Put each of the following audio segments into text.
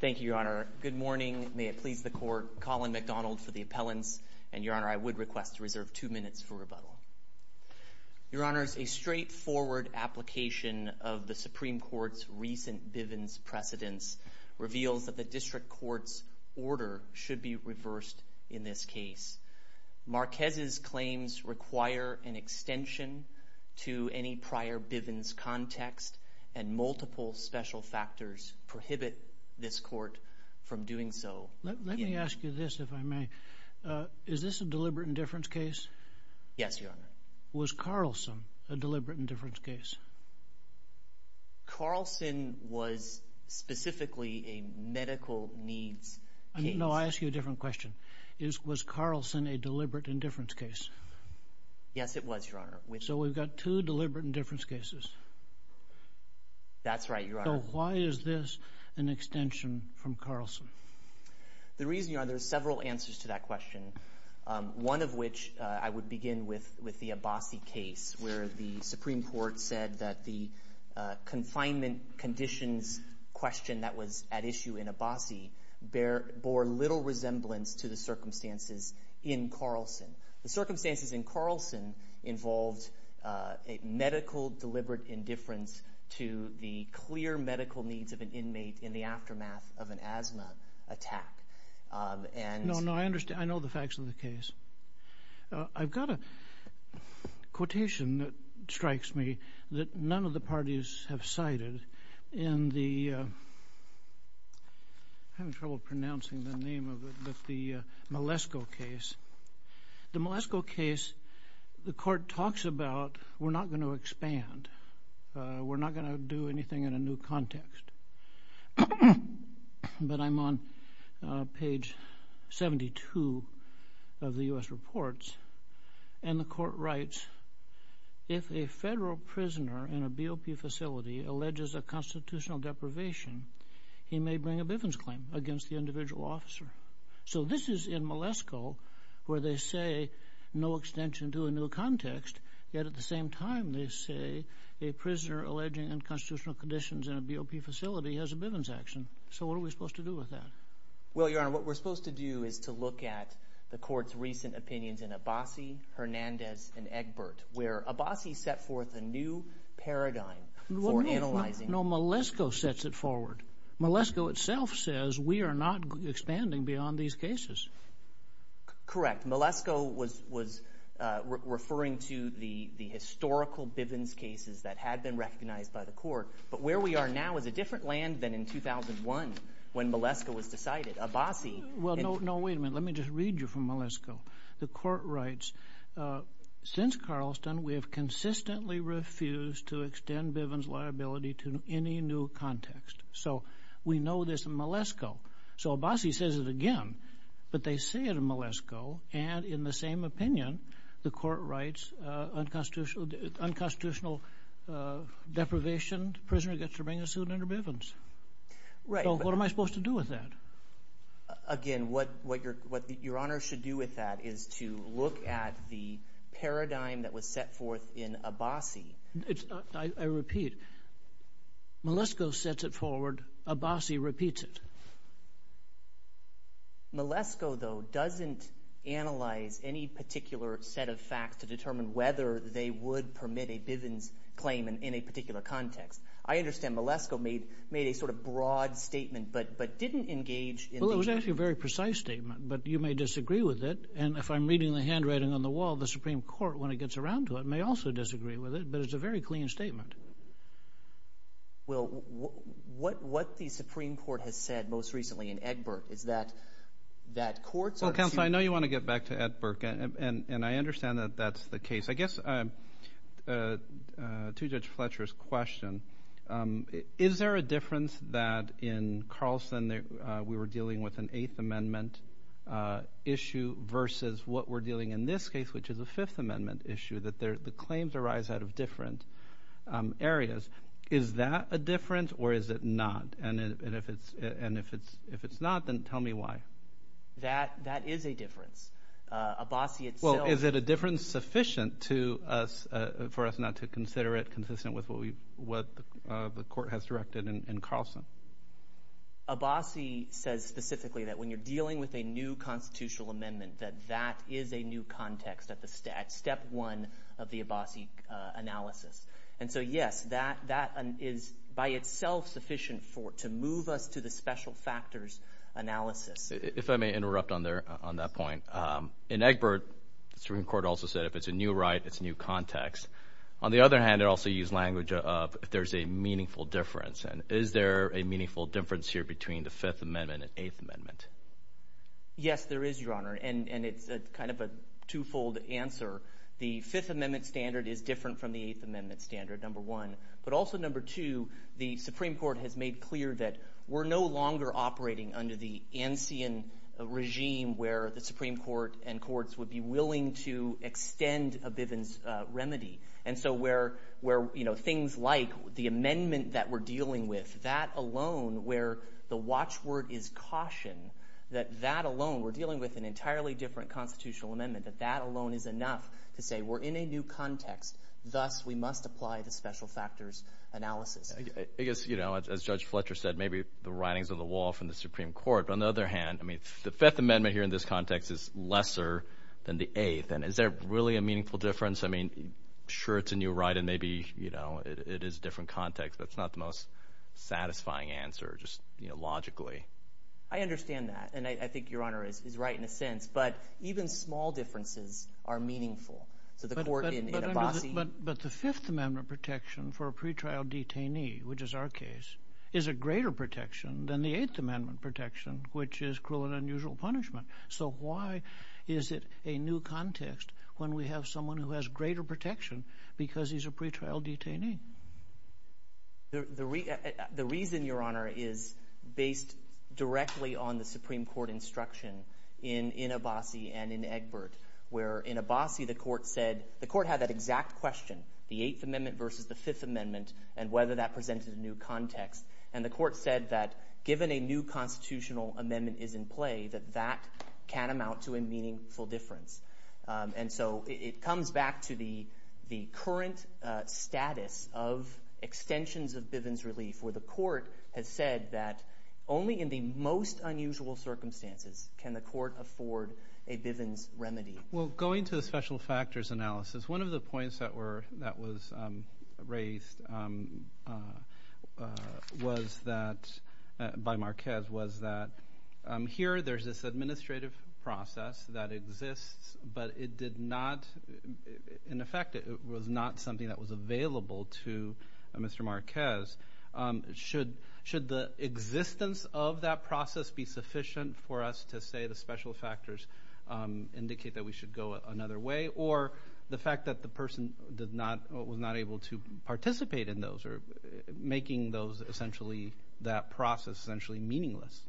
Thank you, Your Honor. Good morning. May it please the Court, Colin McDonald for the appellants. And, Your Honor, I would request to reserve two minutes for rebuttal. Your Honor, a straightforward application of the Supreme Court's recent Bivens precedence reveals that the District Court's order should be reversed in this case. Marquez's claims require an extension to any prior Bivens context and multiple special factors prohibit this Court from doing so. Let me ask you this, if I may. Is this a deliberate indifference case? Yes, Your Honor. Was Carlson a deliberate indifference case? Carlson was specifically a medical needs case. No, I ask you a different question. Was Carlson a deliberate indifference case? Yes, it was, Your Honor. So we've got two deliberate indifference cases. That's right, Your Honor. So why is this an extension from Carlson? The reason, Your Honor, there are several answers to that question, one of which I would begin with the Abbasi case where the Supreme Court said that the confinement conditions question that was at issue in Abbasi bore little resemblance to the circumstances in Carlson. The circumstances in Carlson involved a medical deliberate indifference to the clear medical needs of an inmate in the aftermath of an asthma attack. No, no, I understand. I know the facts of the case. I've got a quotation that strikes me that none of the parties have cited in the I'm having trouble pronouncing the name of it, but the Malesko case. The Malesko case, the Court talks about we're not going to expand. We're not going to do anything in a new context. But I'm on page 72 of the U.S. Reports, and the Court writes, if a federal prisoner in a BOP facility alleges a constitutional deprivation, he may bring a Bivens claim against the individual officer. So this is in Malesko where they say no extension to a new context, yet at the same time they say a prisoner alleging unconstitutional conditions in a BOP facility has a Bivens action. So what are we supposed to do with that? Well, Your Honor, what we're supposed to do is to look at the Court's recent opinions in Abassi, Hernandez, and Egbert where Abassi set forth a new paradigm for analyzing. No, Malesko sets it forward. Malesko itself says we are not expanding beyond these cases. Correct. Malesko was referring to the historical Bivens cases that had been recognized by the Court, but where we are now is a different land than in 2001 when Malesko was decided. Well, no, wait a minute. Let me just read you from Malesko. The Court writes, since Carlson, we have consistently refused to extend Bivens liability to any new context. So we know this in Malesko. So Abassi says it again, but they say it in Malesko, and in the same opinion, the Court writes unconstitutional deprivation, prisoner gets to bring a suit under Bivens. So what am I supposed to do with that? Again, what Your Honor should do with that is to look at the paradigm that was set forth in Abassi. I repeat, Malesko sets it forward. Abassi repeats it. Malesko, though, doesn't analyze any particular set of facts to determine whether they would permit a Bivens claim in a particular context. I understand Malesko made a sort of broad statement, but didn't engage in the— Well, it was actually a very precise statement, but you may disagree with it. And if I'm reading the handwriting on the wall, the Supreme Court, when it gets around to it, may also disagree with it. But it's a very clean statement. Well, what the Supreme Court has said most recently in Egbert is that courts are— Well, counsel, I know you want to get back to Egbert, and I understand that that's the case. I guess to Judge Fletcher's question, is there a difference that in Carlson we were dealing with an Eighth Amendment issue versus what we're dealing in this case, which is a Fifth Amendment issue, that the claims arise out of different areas? Is that a difference, or is it not? And if it's not, then tell me why. That is a difference. Abassi itself— for us not to consider it consistent with what the court has directed in Carlson. Abassi says specifically that when you're dealing with a new constitutional amendment, that that is a new context at step one of the Abassi analysis. And so, yes, that is by itself sufficient to move us to the special factors analysis. If I may interrupt on that point. In Egbert, the Supreme Court also said if it's a new right, it's a new context. On the other hand, it also used language of if there's a meaningful difference. And is there a meaningful difference here between the Fifth Amendment and Eighth Amendment? Yes, there is, Your Honor, and it's kind of a twofold answer. The Fifth Amendment standard is different from the Eighth Amendment standard, number one. But also, number two, the Supreme Court has made clear that we're no longer operating under the Ancien regime, where the Supreme Court and courts would be willing to extend a Bivens remedy. And so where things like the amendment that we're dealing with, that alone, where the watchword is caution, that that alone—we're dealing with an entirely different constitutional amendment—that that alone is enough to say we're in a new context. Thus, we must apply the special factors analysis. I guess, as Judge Fletcher said, maybe the writing's on the wall from the Supreme Court. But on the other hand, the Fifth Amendment here in this context is lesser than the Eighth. And is there really a meaningful difference? I mean, sure, it's a new right, and maybe it is a different context. That's not the most satisfying answer just logically. I understand that, and I think Your Honor is right in a sense. But even small differences are meaningful. But the Fifth Amendment protection for a pretrial detainee, which is our case, is a greater protection than the Eighth Amendment protection, which is cruel and unusual punishment. So why is it a new context when we have someone who has greater protection because he's a pretrial detainee? The reason, Your Honor, is based directly on the Supreme Court instruction in Abbasi and in Egbert, where in Abbasi the court had that exact question, the Eighth Amendment versus the Fifth Amendment, and whether that presented a new context. And the court said that given a new constitutional amendment is in play, that that can amount to a meaningful difference. And so it comes back to the current status of extensions of Bivens relief, where the court has said that only in the most unusual circumstances can the court afford a Bivens remedy. Well, going to the special factors analysis, one of the points that was raised by Marquez was that here there's this administrative process that exists, but it did not – should the existence of that process be sufficient for us to say the special factors indicate that we should go another way, or the fact that the person was not able to participate in those, or making that process essentially meaningless?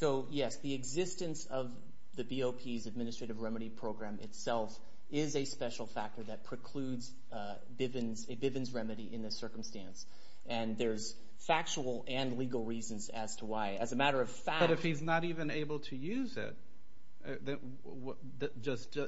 So, yes, the existence of the BOP's administrative remedy program itself is a special factor that precludes a Bivens remedy in this circumstance. And there's factual and legal reasons as to why. As a matter of fact – But if he's not even able to use it,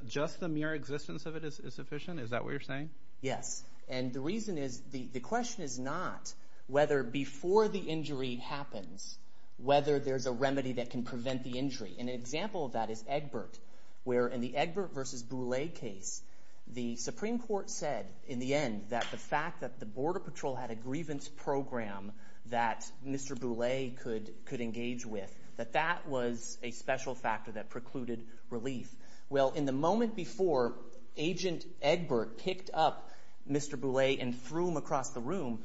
just the mere existence of it is sufficient? Is that what you're saying? Yes. And the reason is – the question is not whether before the injury happens, whether there's a remedy that can prevent the injury. An example of that is Egbert, where in the Egbert versus Boulay case, the Supreme Court said in the end that the fact that the Border Patrol had a grievance program that Mr. Boulay could engage with, that that was a special factor that precluded relief. Well, in the moment before Agent Egbert picked up Mr. Boulay and threw him across the room,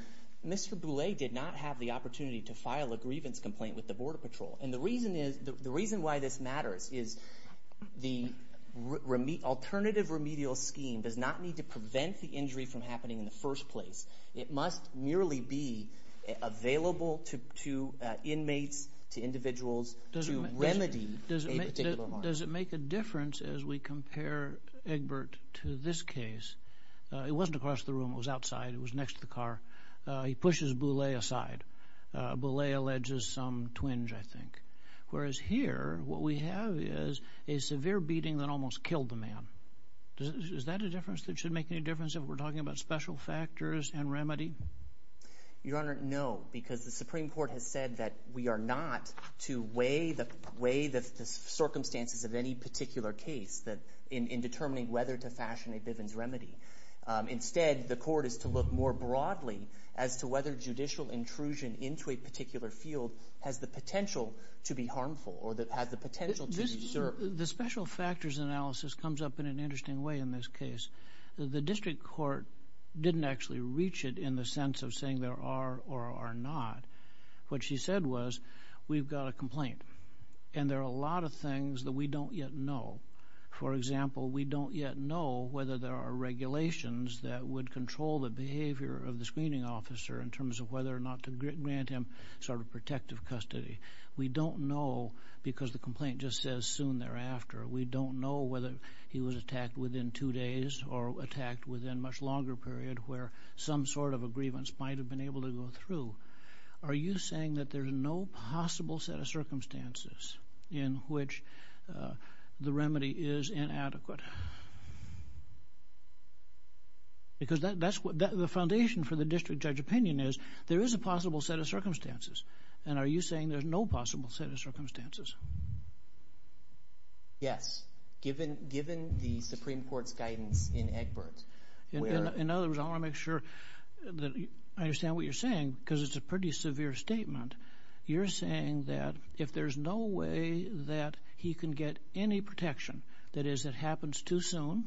Mr. Boulay did not have the opportunity to file a grievance complaint with the Border Patrol. And the reason is – the reason why this matters is the alternative remedial scheme does not need to prevent the injury from happening in the first place. It must merely be available to inmates, to individuals, to remedy a particular harm. Does it make a difference as we compare Egbert to this case? It wasn't across the room. It was outside. It was next to the car. He pushes Boulay aside. Boulay alleges some twinge, I think. Whereas here, what we have is a severe beating that almost killed the man. Is that a difference that should make any difference if we're talking about special factors and remedy? Your Honor, no, because the Supreme Court has said that we are not to weigh the circumstances of any particular case in determining whether to fashion a Bivens remedy. Instead, the court is to look more broadly as to whether judicial intrusion into a particular field has the potential to be harmful or has the potential to be – The special factors analysis comes up in an interesting way in this case. The district court didn't actually reach it in the sense of saying there are or are not. What she said was we've got a complaint, and there are a lot of things that we don't yet know. For example, we don't yet know whether there are regulations that would control the behavior of the screening officer in terms of whether or not to grant him sort of protective custody. We don't know because the complaint just says soon thereafter. We don't know whether he was attacked within two days or attacked within a much longer period where some sort of a grievance might have been able to go through. Are you saying that there's no possible set of circumstances in which the remedy is inadequate? Because that's what – the foundation for the district judge opinion is there is a possible set of circumstances, and are you saying there's no possible set of circumstances? Yes, given the Supreme Court's guidance in Egbert. In other words, I want to make sure that I understand what you're saying because it's a pretty severe statement. You're saying that if there's no way that he can get any protection, that is it happens too soon,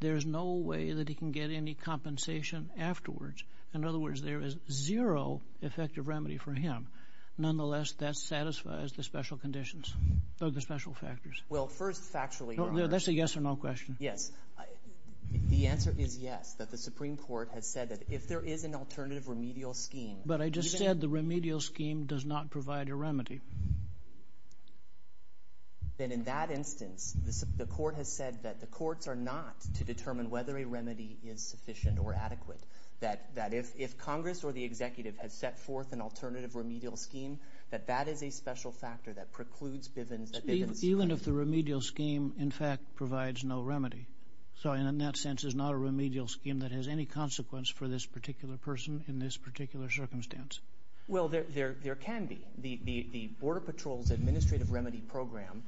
there's no way that he can get any compensation afterwards. In other words, there is zero effective remedy for him. Nonetheless, that satisfies the special conditions or the special factors. Well, first factually – That's a yes or no question. Yes. The answer is yes, that the Supreme Court has said that if there is an alternative remedial scheme – But I just said the remedial scheme does not provide a remedy. Then in that instance, the court has said that the courts are not to determine whether a remedy is sufficient or adequate, that if Congress or the executive has set forth an alternative remedial scheme, that that is a special factor that precludes Bivens – Even if the remedial scheme, in fact, provides no remedy. So in that sense, there's not a remedial scheme that has any consequence for this particular person in this particular circumstance. Well, there can be. The Border Patrol's administrative remedy program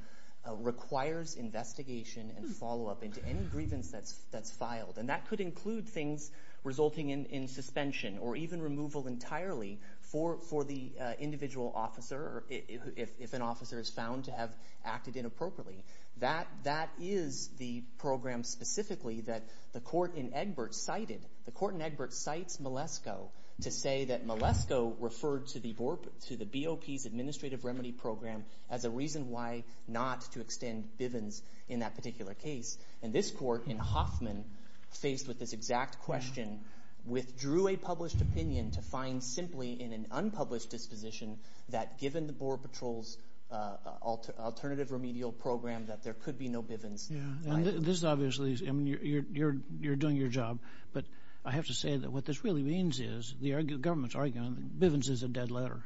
requires investigation and follow-up into any grievance that's filed. And that could include things resulting in suspension or even removal entirely for the individual officer if an officer is found to have acted inappropriately. That is the program specifically that the court in Egbert cited. The court in Egbert cites Malesko to say that Malesko referred to the BOP's administrative remedy program as a reason why not to extend Bivens in that particular case. And this court in Hoffman, faced with this exact question, withdrew a published opinion to find simply in an unpublished disposition that given the Border Patrol's alternative remedial program, that there could be no Bivens. Yeah, and this is obviously – I mean, you're doing your job, but I have to say that what this really means is the government's arguing that Bivens is a dead letter.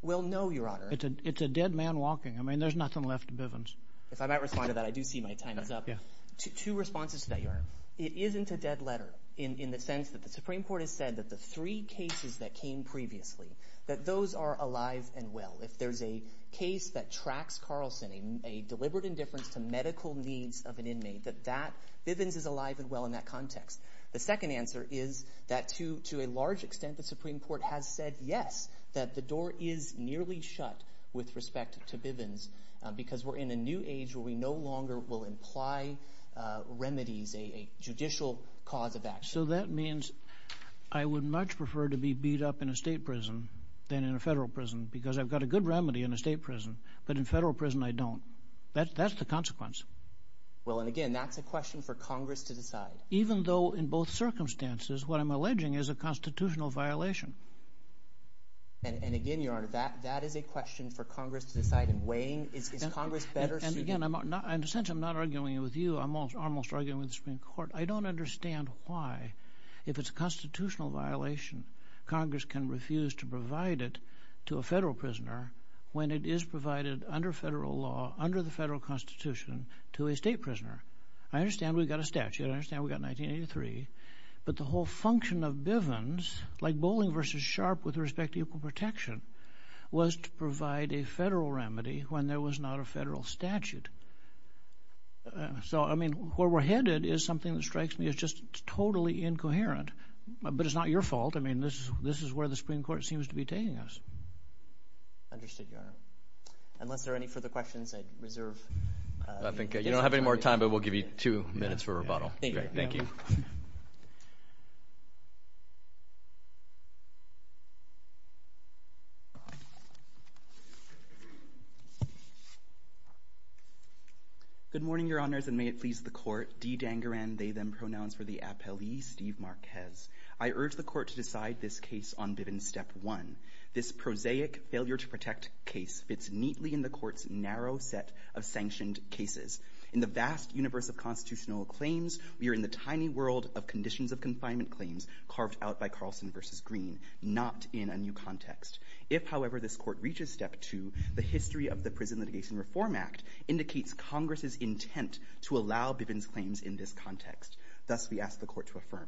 Well, no, Your Honor. It's a dead man walking. I mean, there's nothing left of Bivens. If I might respond to that, I do see my time is up. Two responses to that, Your Honor. It isn't a dead letter in the sense that the Supreme Court has said that the three cases that came previously, that those are alive and well. If there's a case that tracks Carlson, a deliberate indifference to medical needs of an inmate, that that – Bivens is alive and well in that context. The second answer is that to a large extent, the Supreme Court has said yes, that the door is nearly shut with respect to Bivens because we're in a new age where we no longer will imply remedies, a judicial cause of action. So that means I would much prefer to be beat up in a state prison than in a federal prison because I've got a good remedy in a state prison, but in a federal prison, I don't. That's the consequence. Well, and again, that's a question for Congress to decide. Even though in both circumstances, what I'm alleging is a constitutional violation. And again, Your Honor, that is a question for Congress to decide in weighing. Is Congress better suited – And again, in a sense, I'm not arguing with you. I'm almost arguing with the Supreme Court. I don't understand why, if it's a constitutional violation, Congress can refuse to provide it to a federal prisoner when it is provided under federal law, under the federal constitution, to a state prisoner. I understand we've got a statute. I understand we've got 1983. But the whole function of Bivens, like Bowling v. Sharp with respect to equal protection, was to provide a federal remedy when there was not a federal statute. So, I mean, where we're headed is something that strikes me as just totally incoherent. But it's not your fault. I mean, this is where the Supreme Court seems to be taking us. Understood, Your Honor. Unless there are any further questions, I reserve – You don't have any more time, but we'll give you two minutes for rebuttal. Thank you. Thank you. Good morning, Your Honors, and may it please the Court. Dee Dangaran, they, them pronouns for the appellee, Steve Marquez. I urge the Court to decide this case on Bivens Step 1. This prosaic failure-to-protect case fits neatly in the Court's narrow set of sanctioned cases. In the vast universe of constitutional claims, we are in the tiny world of conditions of confinement claims carved out by Carlson v. Green, not in a new context. If, however, this Court reaches Step 2, the history of the Prison Litigation Reform Act indicates Congress's intent to allow Bivens claims in this context. Thus, we ask the Court to affirm.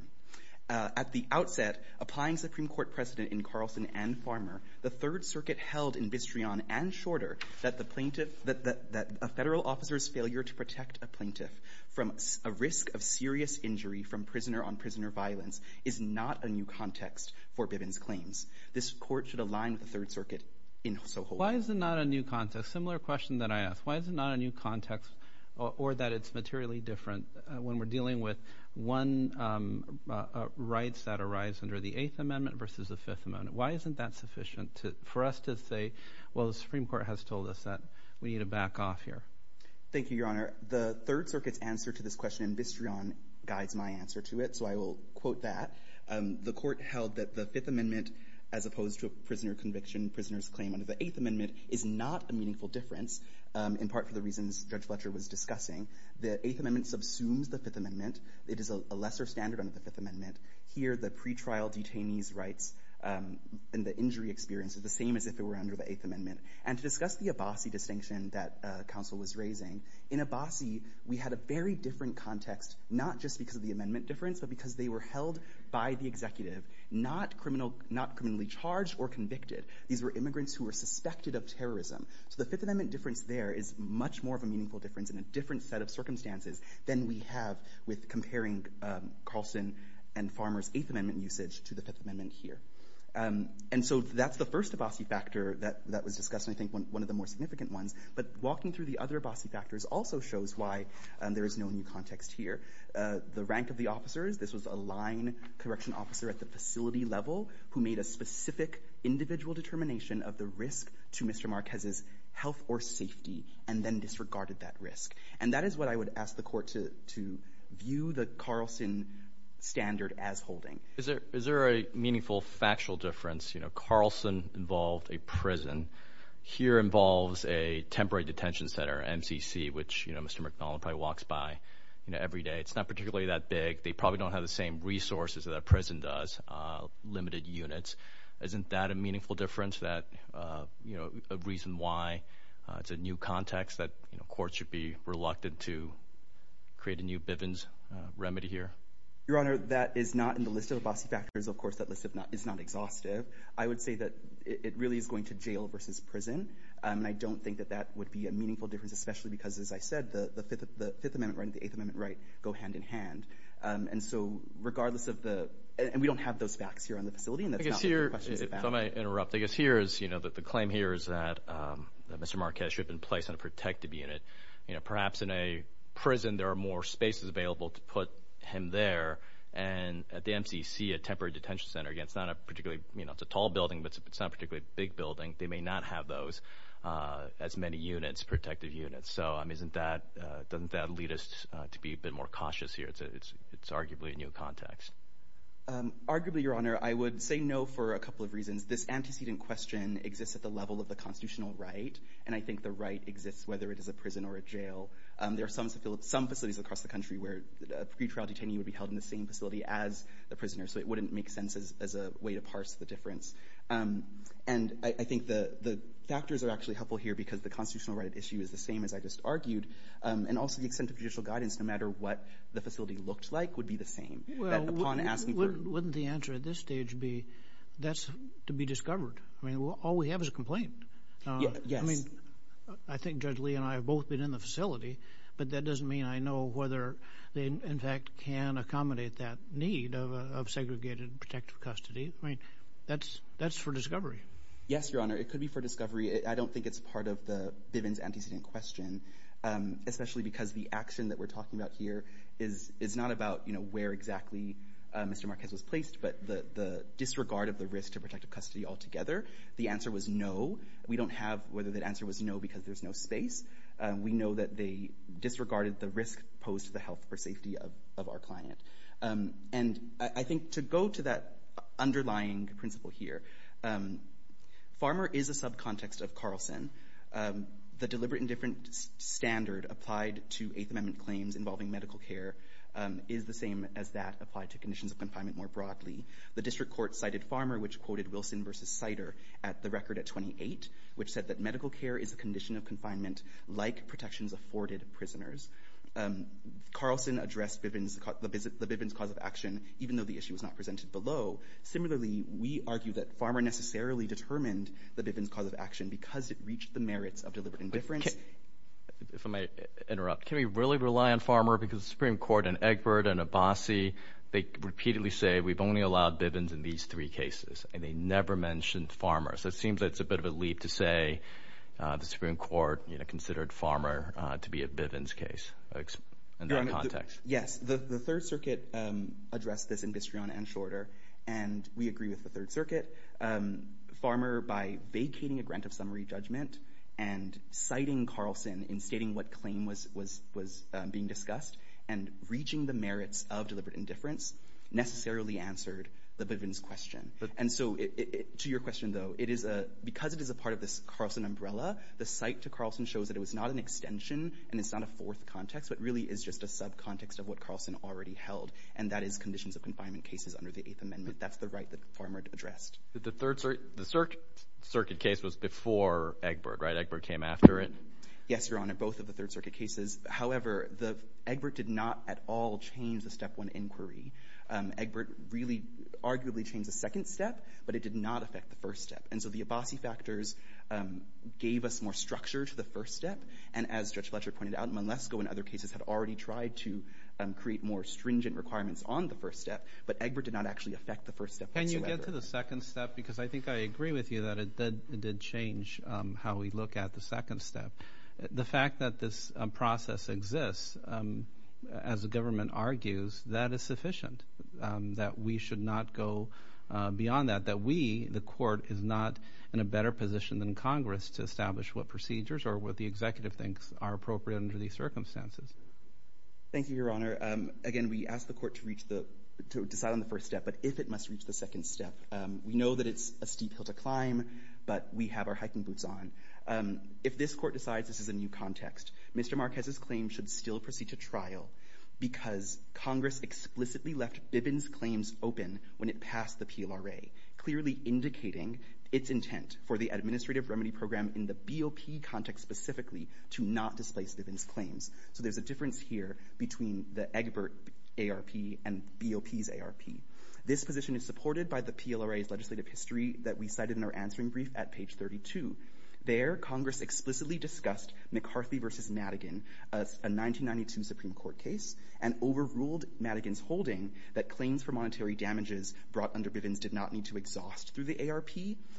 At the outset, applying Supreme Court precedent in Carlson and Farmer, the Third Circuit held in Bistreon and Shorter that the plaintiff – that a federal officer's failure to protect a plaintiff from a risk of serious injury from prisoner-on-prisoner violence is not a new context for Bivens claims. This Court should align with the Third Circuit in Soho. Why is it not a new context? Similar question that I asked. Why is it not a new context or that it's materially different when we're dealing with one rights that arrives under the Eighth Amendment versus the Fifth Amendment? Why isn't that sufficient for us to say, well, the Supreme Court has told us that we need to back off here? Thank you, Your Honor. The Third Circuit's answer to this question in Bistreon guides my answer to it, so I will quote that. The Court held that the Fifth Amendment, as opposed to a prisoner conviction, prisoners' claim under the Eighth Amendment, is not a meaningful difference, in part for the reasons Judge Fletcher was discussing. The Eighth Amendment subsumes the Fifth Amendment. It is a lesser standard under the Fifth Amendment. Here, the pretrial detainee's rights and the injury experience are the same as if they were under the Eighth Amendment. And to discuss the Abassi distinction that counsel was raising, in Abassi, we had a very different context, not just because of the amendment difference, but because they were held by the executive, not criminally charged or convicted. These were immigrants who were suspected of terrorism. So the Fifth Amendment difference there is much more of a meaningful difference in a different set of circumstances than we have with comparing Carlson and Farmer's Eighth Amendment usage to the Fifth Amendment here. And so that's the first Abassi factor that was discussed, and I think one of the more significant ones. But walking through the other Abassi factors also shows why there is no new context here. The rank of the officers, this was a line correction officer at the facility level who made a specific individual determination of the risk to Mr. Marquez's health or safety and then disregarded that risk. And that is what I would ask the court to view the Carlson standard as holding. Is there a meaningful factual difference? Carlson involved a prison. Here involves a temporary detention center, MCC, which Mr. McNaughton probably walks by every day. It's not particularly that big. They probably don't have the same resources that a prison does, limited units. Isn't that a meaningful difference, a reason why it's a new context that courts should be reluctant to create a new Bivens remedy here? Your Honor, that is not in the list of Abassi factors. Of course, that list is not exhaustive. I would say that it really is going to jail versus prison, and I don't think that that would be a meaningful difference, especially because, as I said, the Fifth Amendment right and the Eighth Amendment right go hand in hand. And so regardless of the— and we don't have those facts here on the facility, and that's not what the question is about. If I may interrupt, I guess here is, you know, the claim here is that Mr. Marquez should have been placed in a protective unit. Perhaps in a prison there are more spaces available to put him there, and at the MCC, a temporary detention center, again, it's not a particularly—it's a tall building, but it's not a particularly big building. They may not have those as many units, protective units. So doesn't that lead us to be a bit more cautious here? It's arguably a new context. This antecedent question exists at the level of the constitutional right, and I think the right exists whether it is a prison or a jail. There are some facilities across the country where a pretrial detainee would be held in the same facility as the prisoner, so it wouldn't make sense as a way to parse the difference. And I think the factors are actually helpful here because the constitutional right issue is the same, as I just argued, and also the extent of judicial guidance, no matter what the facility looked like, would be the same. Well, wouldn't the answer at this stage be that's to be discovered? I mean, all we have is a complaint. Yes. I mean, I think Judge Lee and I have both been in the facility, but that doesn't mean I know whether they, in fact, can accommodate that need of segregated protective custody. I mean, that's for discovery. Yes, Your Honor, it could be for discovery. I don't think it's part of the Bivens antecedent question, especially because the action that we're talking about here is not about, you know, where exactly Mr. Marquez was placed, but the disregard of the risk to protective custody altogether. The answer was no. We don't have whether that answer was no because there's no space. We know that they disregarded the risk posed to the health or safety of our client. And I think to go to that underlying principle here, farmer is a subcontext of Carlson. The deliberate and different standard applied to Eighth Amendment claims involving medical care is the same as that applied to conditions of confinement more broadly. The district court cited Farmer, which quoted Wilson v. Sider at the record at 28, which said that medical care is a condition of confinement like protections afforded prisoners. Carlson addressed the Bivens cause of action, even though the issue was not presented below. Similarly, we argue that Farmer necessarily determined the Bivens cause of action because it reached the merits of deliberate and different. If I might interrupt, can we really rely on Farmer? Because the Supreme Court and Egbert and Abbasi, they repeatedly say we've only allowed Bivens in these three cases, and they never mentioned Farmer. So it seems that it's a bit of a leap to say the Supreme Court, you know, considered Farmer to be a Bivens case in that context. Yes, the Third Circuit addressed this in Bistrione and Shorter, and we agree with the Third Circuit. Farmer, by vacating a grant of summary judgment and citing Carlson in stating what claim was being discussed and reaching the merits of deliberate indifference, necessarily answered the Bivens question. And so to your question, though, because it is a part of this Carlson umbrella, the cite to Carlson shows that it was not an extension and it's not a fourth context, but really is just a subcontext of what Carlson already held, and that is conditions of confinement cases under the Eighth Amendment. That's the right that Farmer addressed. The Third Circuit case was before Egbert, right? Egbert came after it? Yes, Your Honor, both of the Third Circuit cases. However, Egbert did not at all change the Step 1 inquiry. Egbert really arguably changed the second step, but it did not affect the first step. And so the Abbasi factors gave us more structure to the first step, and as Judge Fletcher pointed out, Malesko in other cases had already tried to create more stringent requirements on the first step, but Egbert did not actually affect the first step whatsoever. Can you get to the second step? Because I think I agree with you that it did change how we look at the second step. The fact that this process exists, as the government argues, that is sufficient, that we should not go beyond that, that we, the Court, is not in a better position than Congress to establish what procedures or what the executive thinks are appropriate under these circumstances. Thank you, Your Honor. Again, we ask the Court to decide on the first step, but if it must reach the second step. We know that it's a steep hill to climb, but we have our hiking boots on. If this Court decides this is a new context, Mr. Marquez's claim should still proceed to trial because Congress explicitly left Bibin's claims open when it passed the PLRA, clearly indicating its intent for the Administrative Remedy Program in the BOP context specifically to not displace Bibin's claims. So there's a difference here between the Egbert ARP and BOP's ARP. This position is supported by the PLRA's legislative history that we cited in our answering brief at page 32. There, Congress explicitly discussed McCarthy v. Madigan, a 1992 Supreme Court case, and overruled Madigan's holding that claims for monetary damages brought under Bibin's did not need to exhaust through the ARP,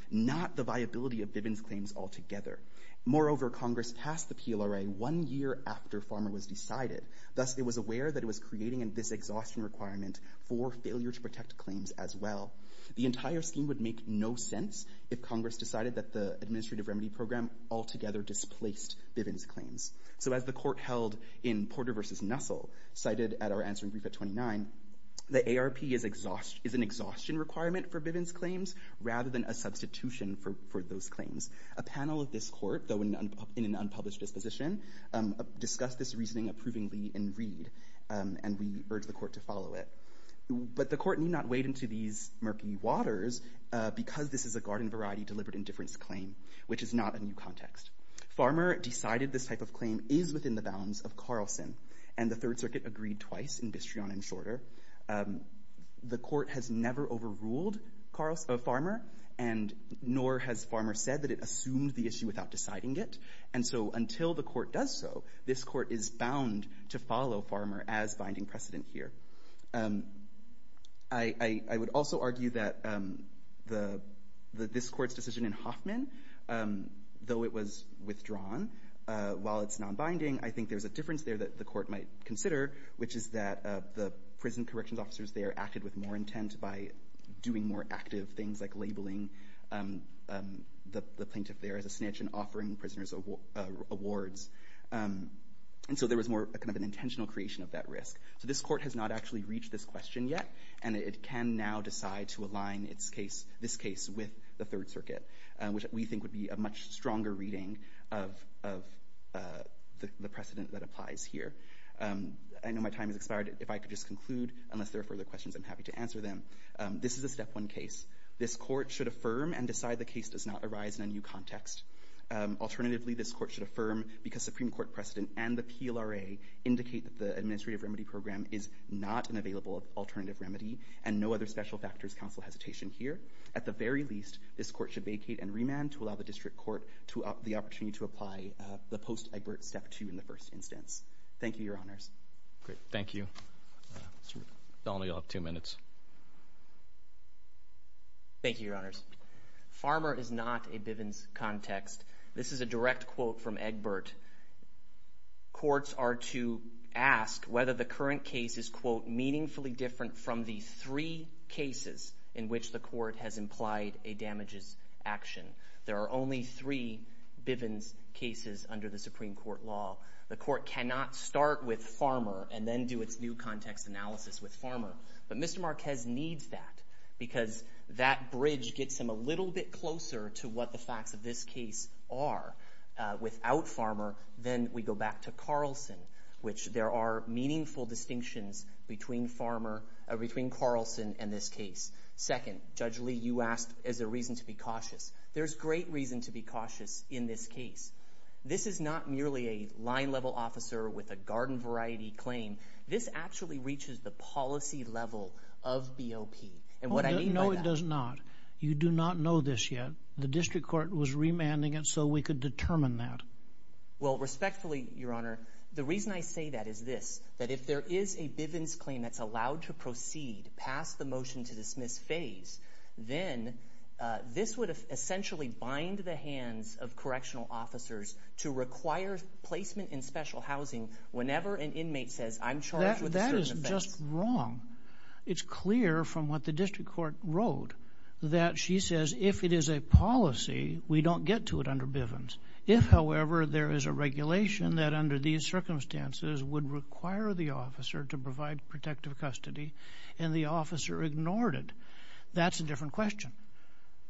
not the viability of Bibin's claims altogether. Moreover, Congress passed the PLRA one year after Farmer was decided, thus it was aware that it was creating this exhaustion requirement for failure to protect claims as well. The entire scheme would make no sense if Congress decided that the Administrative Remedy Program altogether displaced Bibin's claims. So as the Court held in Porter v. Nussel, cited at our answering brief at 29, the ARP is an exhaustion requirement for Bibin's claims rather than a substitution for those claims. A panel of this Court, though in an unpublished disposition, discussed this reasoning approvingly in Reed, and we urge the Court to follow it. But the Court need not wade into these murky waters because this is a garden variety deliberate indifference claim, which is not a new context. Farmer decided this type of claim is within the bounds of Carlson, and the Third Circuit agreed twice in Bistrion and Shorter. The Court has never overruled Farmer, nor has Farmer said that it assumed the issue without deciding it, and so until the Court does so, this Court is bound to follow Farmer as binding precedent here. I would also argue that this Court's decision in Hoffman, though it was withdrawn, while it's non-binding, I think there's a difference there that the Court might consider, which is that the prison corrections officers there acted with more intent by doing more active things like labeling the plaintiff there as a snitch and offering prisoners awards. And so there was more of an intentional creation of that risk. So this Court has not actually reached this question yet, and it can now decide to align this case with the Third Circuit, which we think would be a much stronger reading of the precedent that applies here. I know my time has expired. If I could just conclude, unless there are further questions, I'm happy to answer them. This is a step one case. This Court should affirm and decide the case does not arise in a new context. Alternatively, this Court should affirm, because Supreme Court precedent and the PLRA indicate that the administrative remedy program is not an available alternative remedy and no other special factors counsel hesitation here. At the very least, this Court should vacate and remand to allow the District Court the opportunity to apply the post-Egbert step two in the first instance. Thank you, Your Honors. Great. Thank you. Mr. Donnelly, you'll have two minutes. Thank you, Your Honors. Farmer is not a Bivens context. This is a direct quote from Egbert. Courts are to ask whether the current case is meaningfully different from the three cases in which the Court has implied a damages action. There are only three Bivens cases under the Supreme Court law. The Court cannot start with Farmer and then do its new context analysis with Farmer, but Mr. Marquez needs that because that bridge gets him a little bit closer to what the facts of this case are. Without Farmer, then we go back to Carlson, which there are meaningful distinctions between Carlson and this case. Second, Judge Lee, you asked is there reason to be cautious. There's great reason to be cautious in this case. This is not merely a line-level officer with a garden variety claim. This actually reaches the policy level of BOP, and what I mean by that... No, it does not. You do not know this yet. The District Court was remanding it so we could determine that. Well, respectfully, Your Honor, the reason I say that is this, that if there is a Bivens claim that's allowed to proceed past the motion-to-dismiss phase, then this would essentially bind the hands of correctional officers to require placement in special housing whenever an inmate says, I'm charged with a certain offense. That is just wrong. It's clear from what the District Court wrote that she says if it is a policy, we don't get to it under Bivens. If, however, there is a regulation that under these circumstances would require the officer to provide protective custody and the officer ignored it, that's a different question.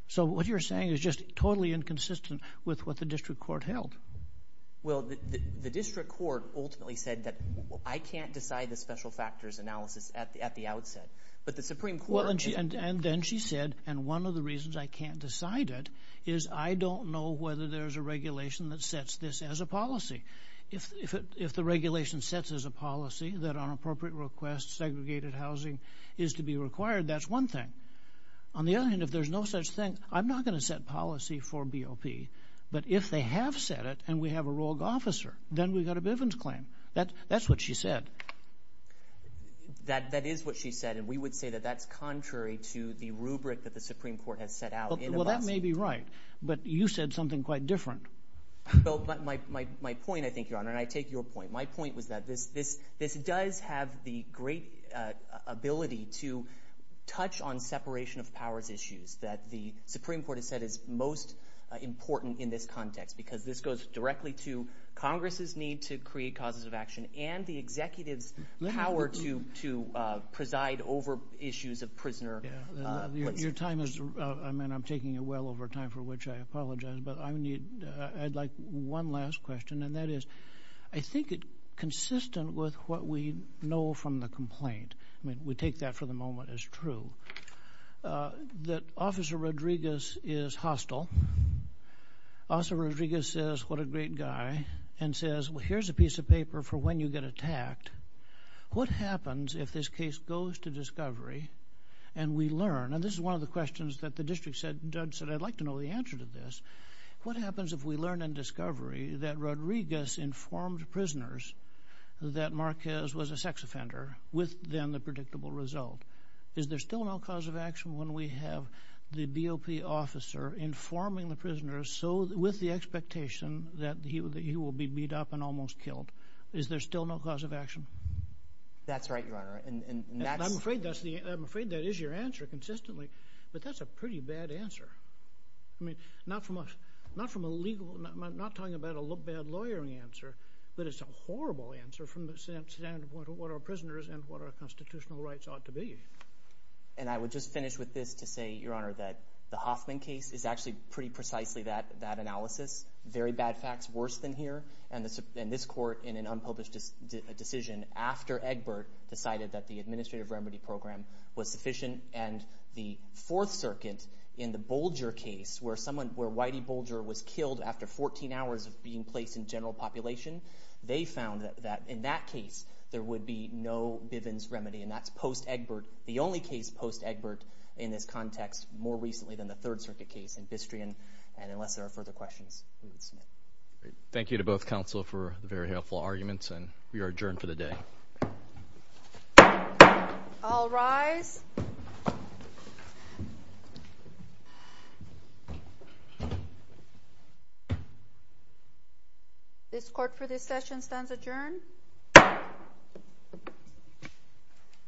So what you're saying is just totally inconsistent with what the District Court held. Well, the District Court ultimately said that I can't decide the special factors analysis at the outset. But the Supreme Court... And then she said, and one of the reasons I can't decide it is I don't know whether there's a regulation that sets this as a policy. If the regulation sets as a policy that on appropriate requests segregated housing is to be required, that's one thing. On the other hand, if there's no such thing, I'm not going to set policy for BOP. But if they have set it and we have a rogue officer, then we've got a Bivens claim. That's what she said. That is what she said, and we would say that that's contrary to the rubric that the Supreme Court has set out. Well, that may be right, but you said something quite different. But my point, I think, Your Honor, and I take your point, my point was that this does have the great ability to touch on separation of powers issues that the Supreme Court has said is most important in this context because this goes directly to Congress's need to create causes of action and the executive's power to preside over issues of prisoner... Your time is... I mean, I'm taking it well over time, for which I apologize, but I need... I'd like one last question, and that is, I think it's consistent with what we know from the complaint. I mean, we take that for the moment as true. That Officer Rodriguez is hostile. Officer Rodriguez says, what a great guy, and says, well, here's a piece of paper for when you get attacked. What happens if this case goes to discovery and we learn? And this is one of the questions that the district judge said, I'd like to know the answer to this. What happens if we learn in discovery that Rodriguez informed prisoners that Marquez was a sex offender with, then, the predictable result? Is there still no cause of action when we have the BOP officer informing the prisoners with the expectation that he will be beat up and almost killed? Is there still no cause of action? That's right, Your Honor, and that's... I'm afraid that is your answer consistently, but that's a pretty bad answer. I mean, not from a legal... I'm not talking about a bad lawyering answer, but it's a horrible answer from the standpoint of what our prisoners and what our constitutional rights ought to be. And I would just finish with this to say, Your Honor, that the Hoffman case is actually pretty precisely that analysis. Very bad facts, worse than here. And this court, in an unpublished decision, after Egbert decided that the administrative remedy program was sufficient and the Fourth Circuit in the Bolger case, where Whitey Bolger was killed after 14 hours of being placed in general population, they found that in that case there would be no Bivens remedy, and that's post-Egbert, the only case post-Egbert in this context more recently than the Third Circuit case in Bistrian. And unless there are further questions, we will submit. Thank you to both counsel for the very helpful arguments, and we are adjourned for the day. All rise. This court for this session stands adjourned.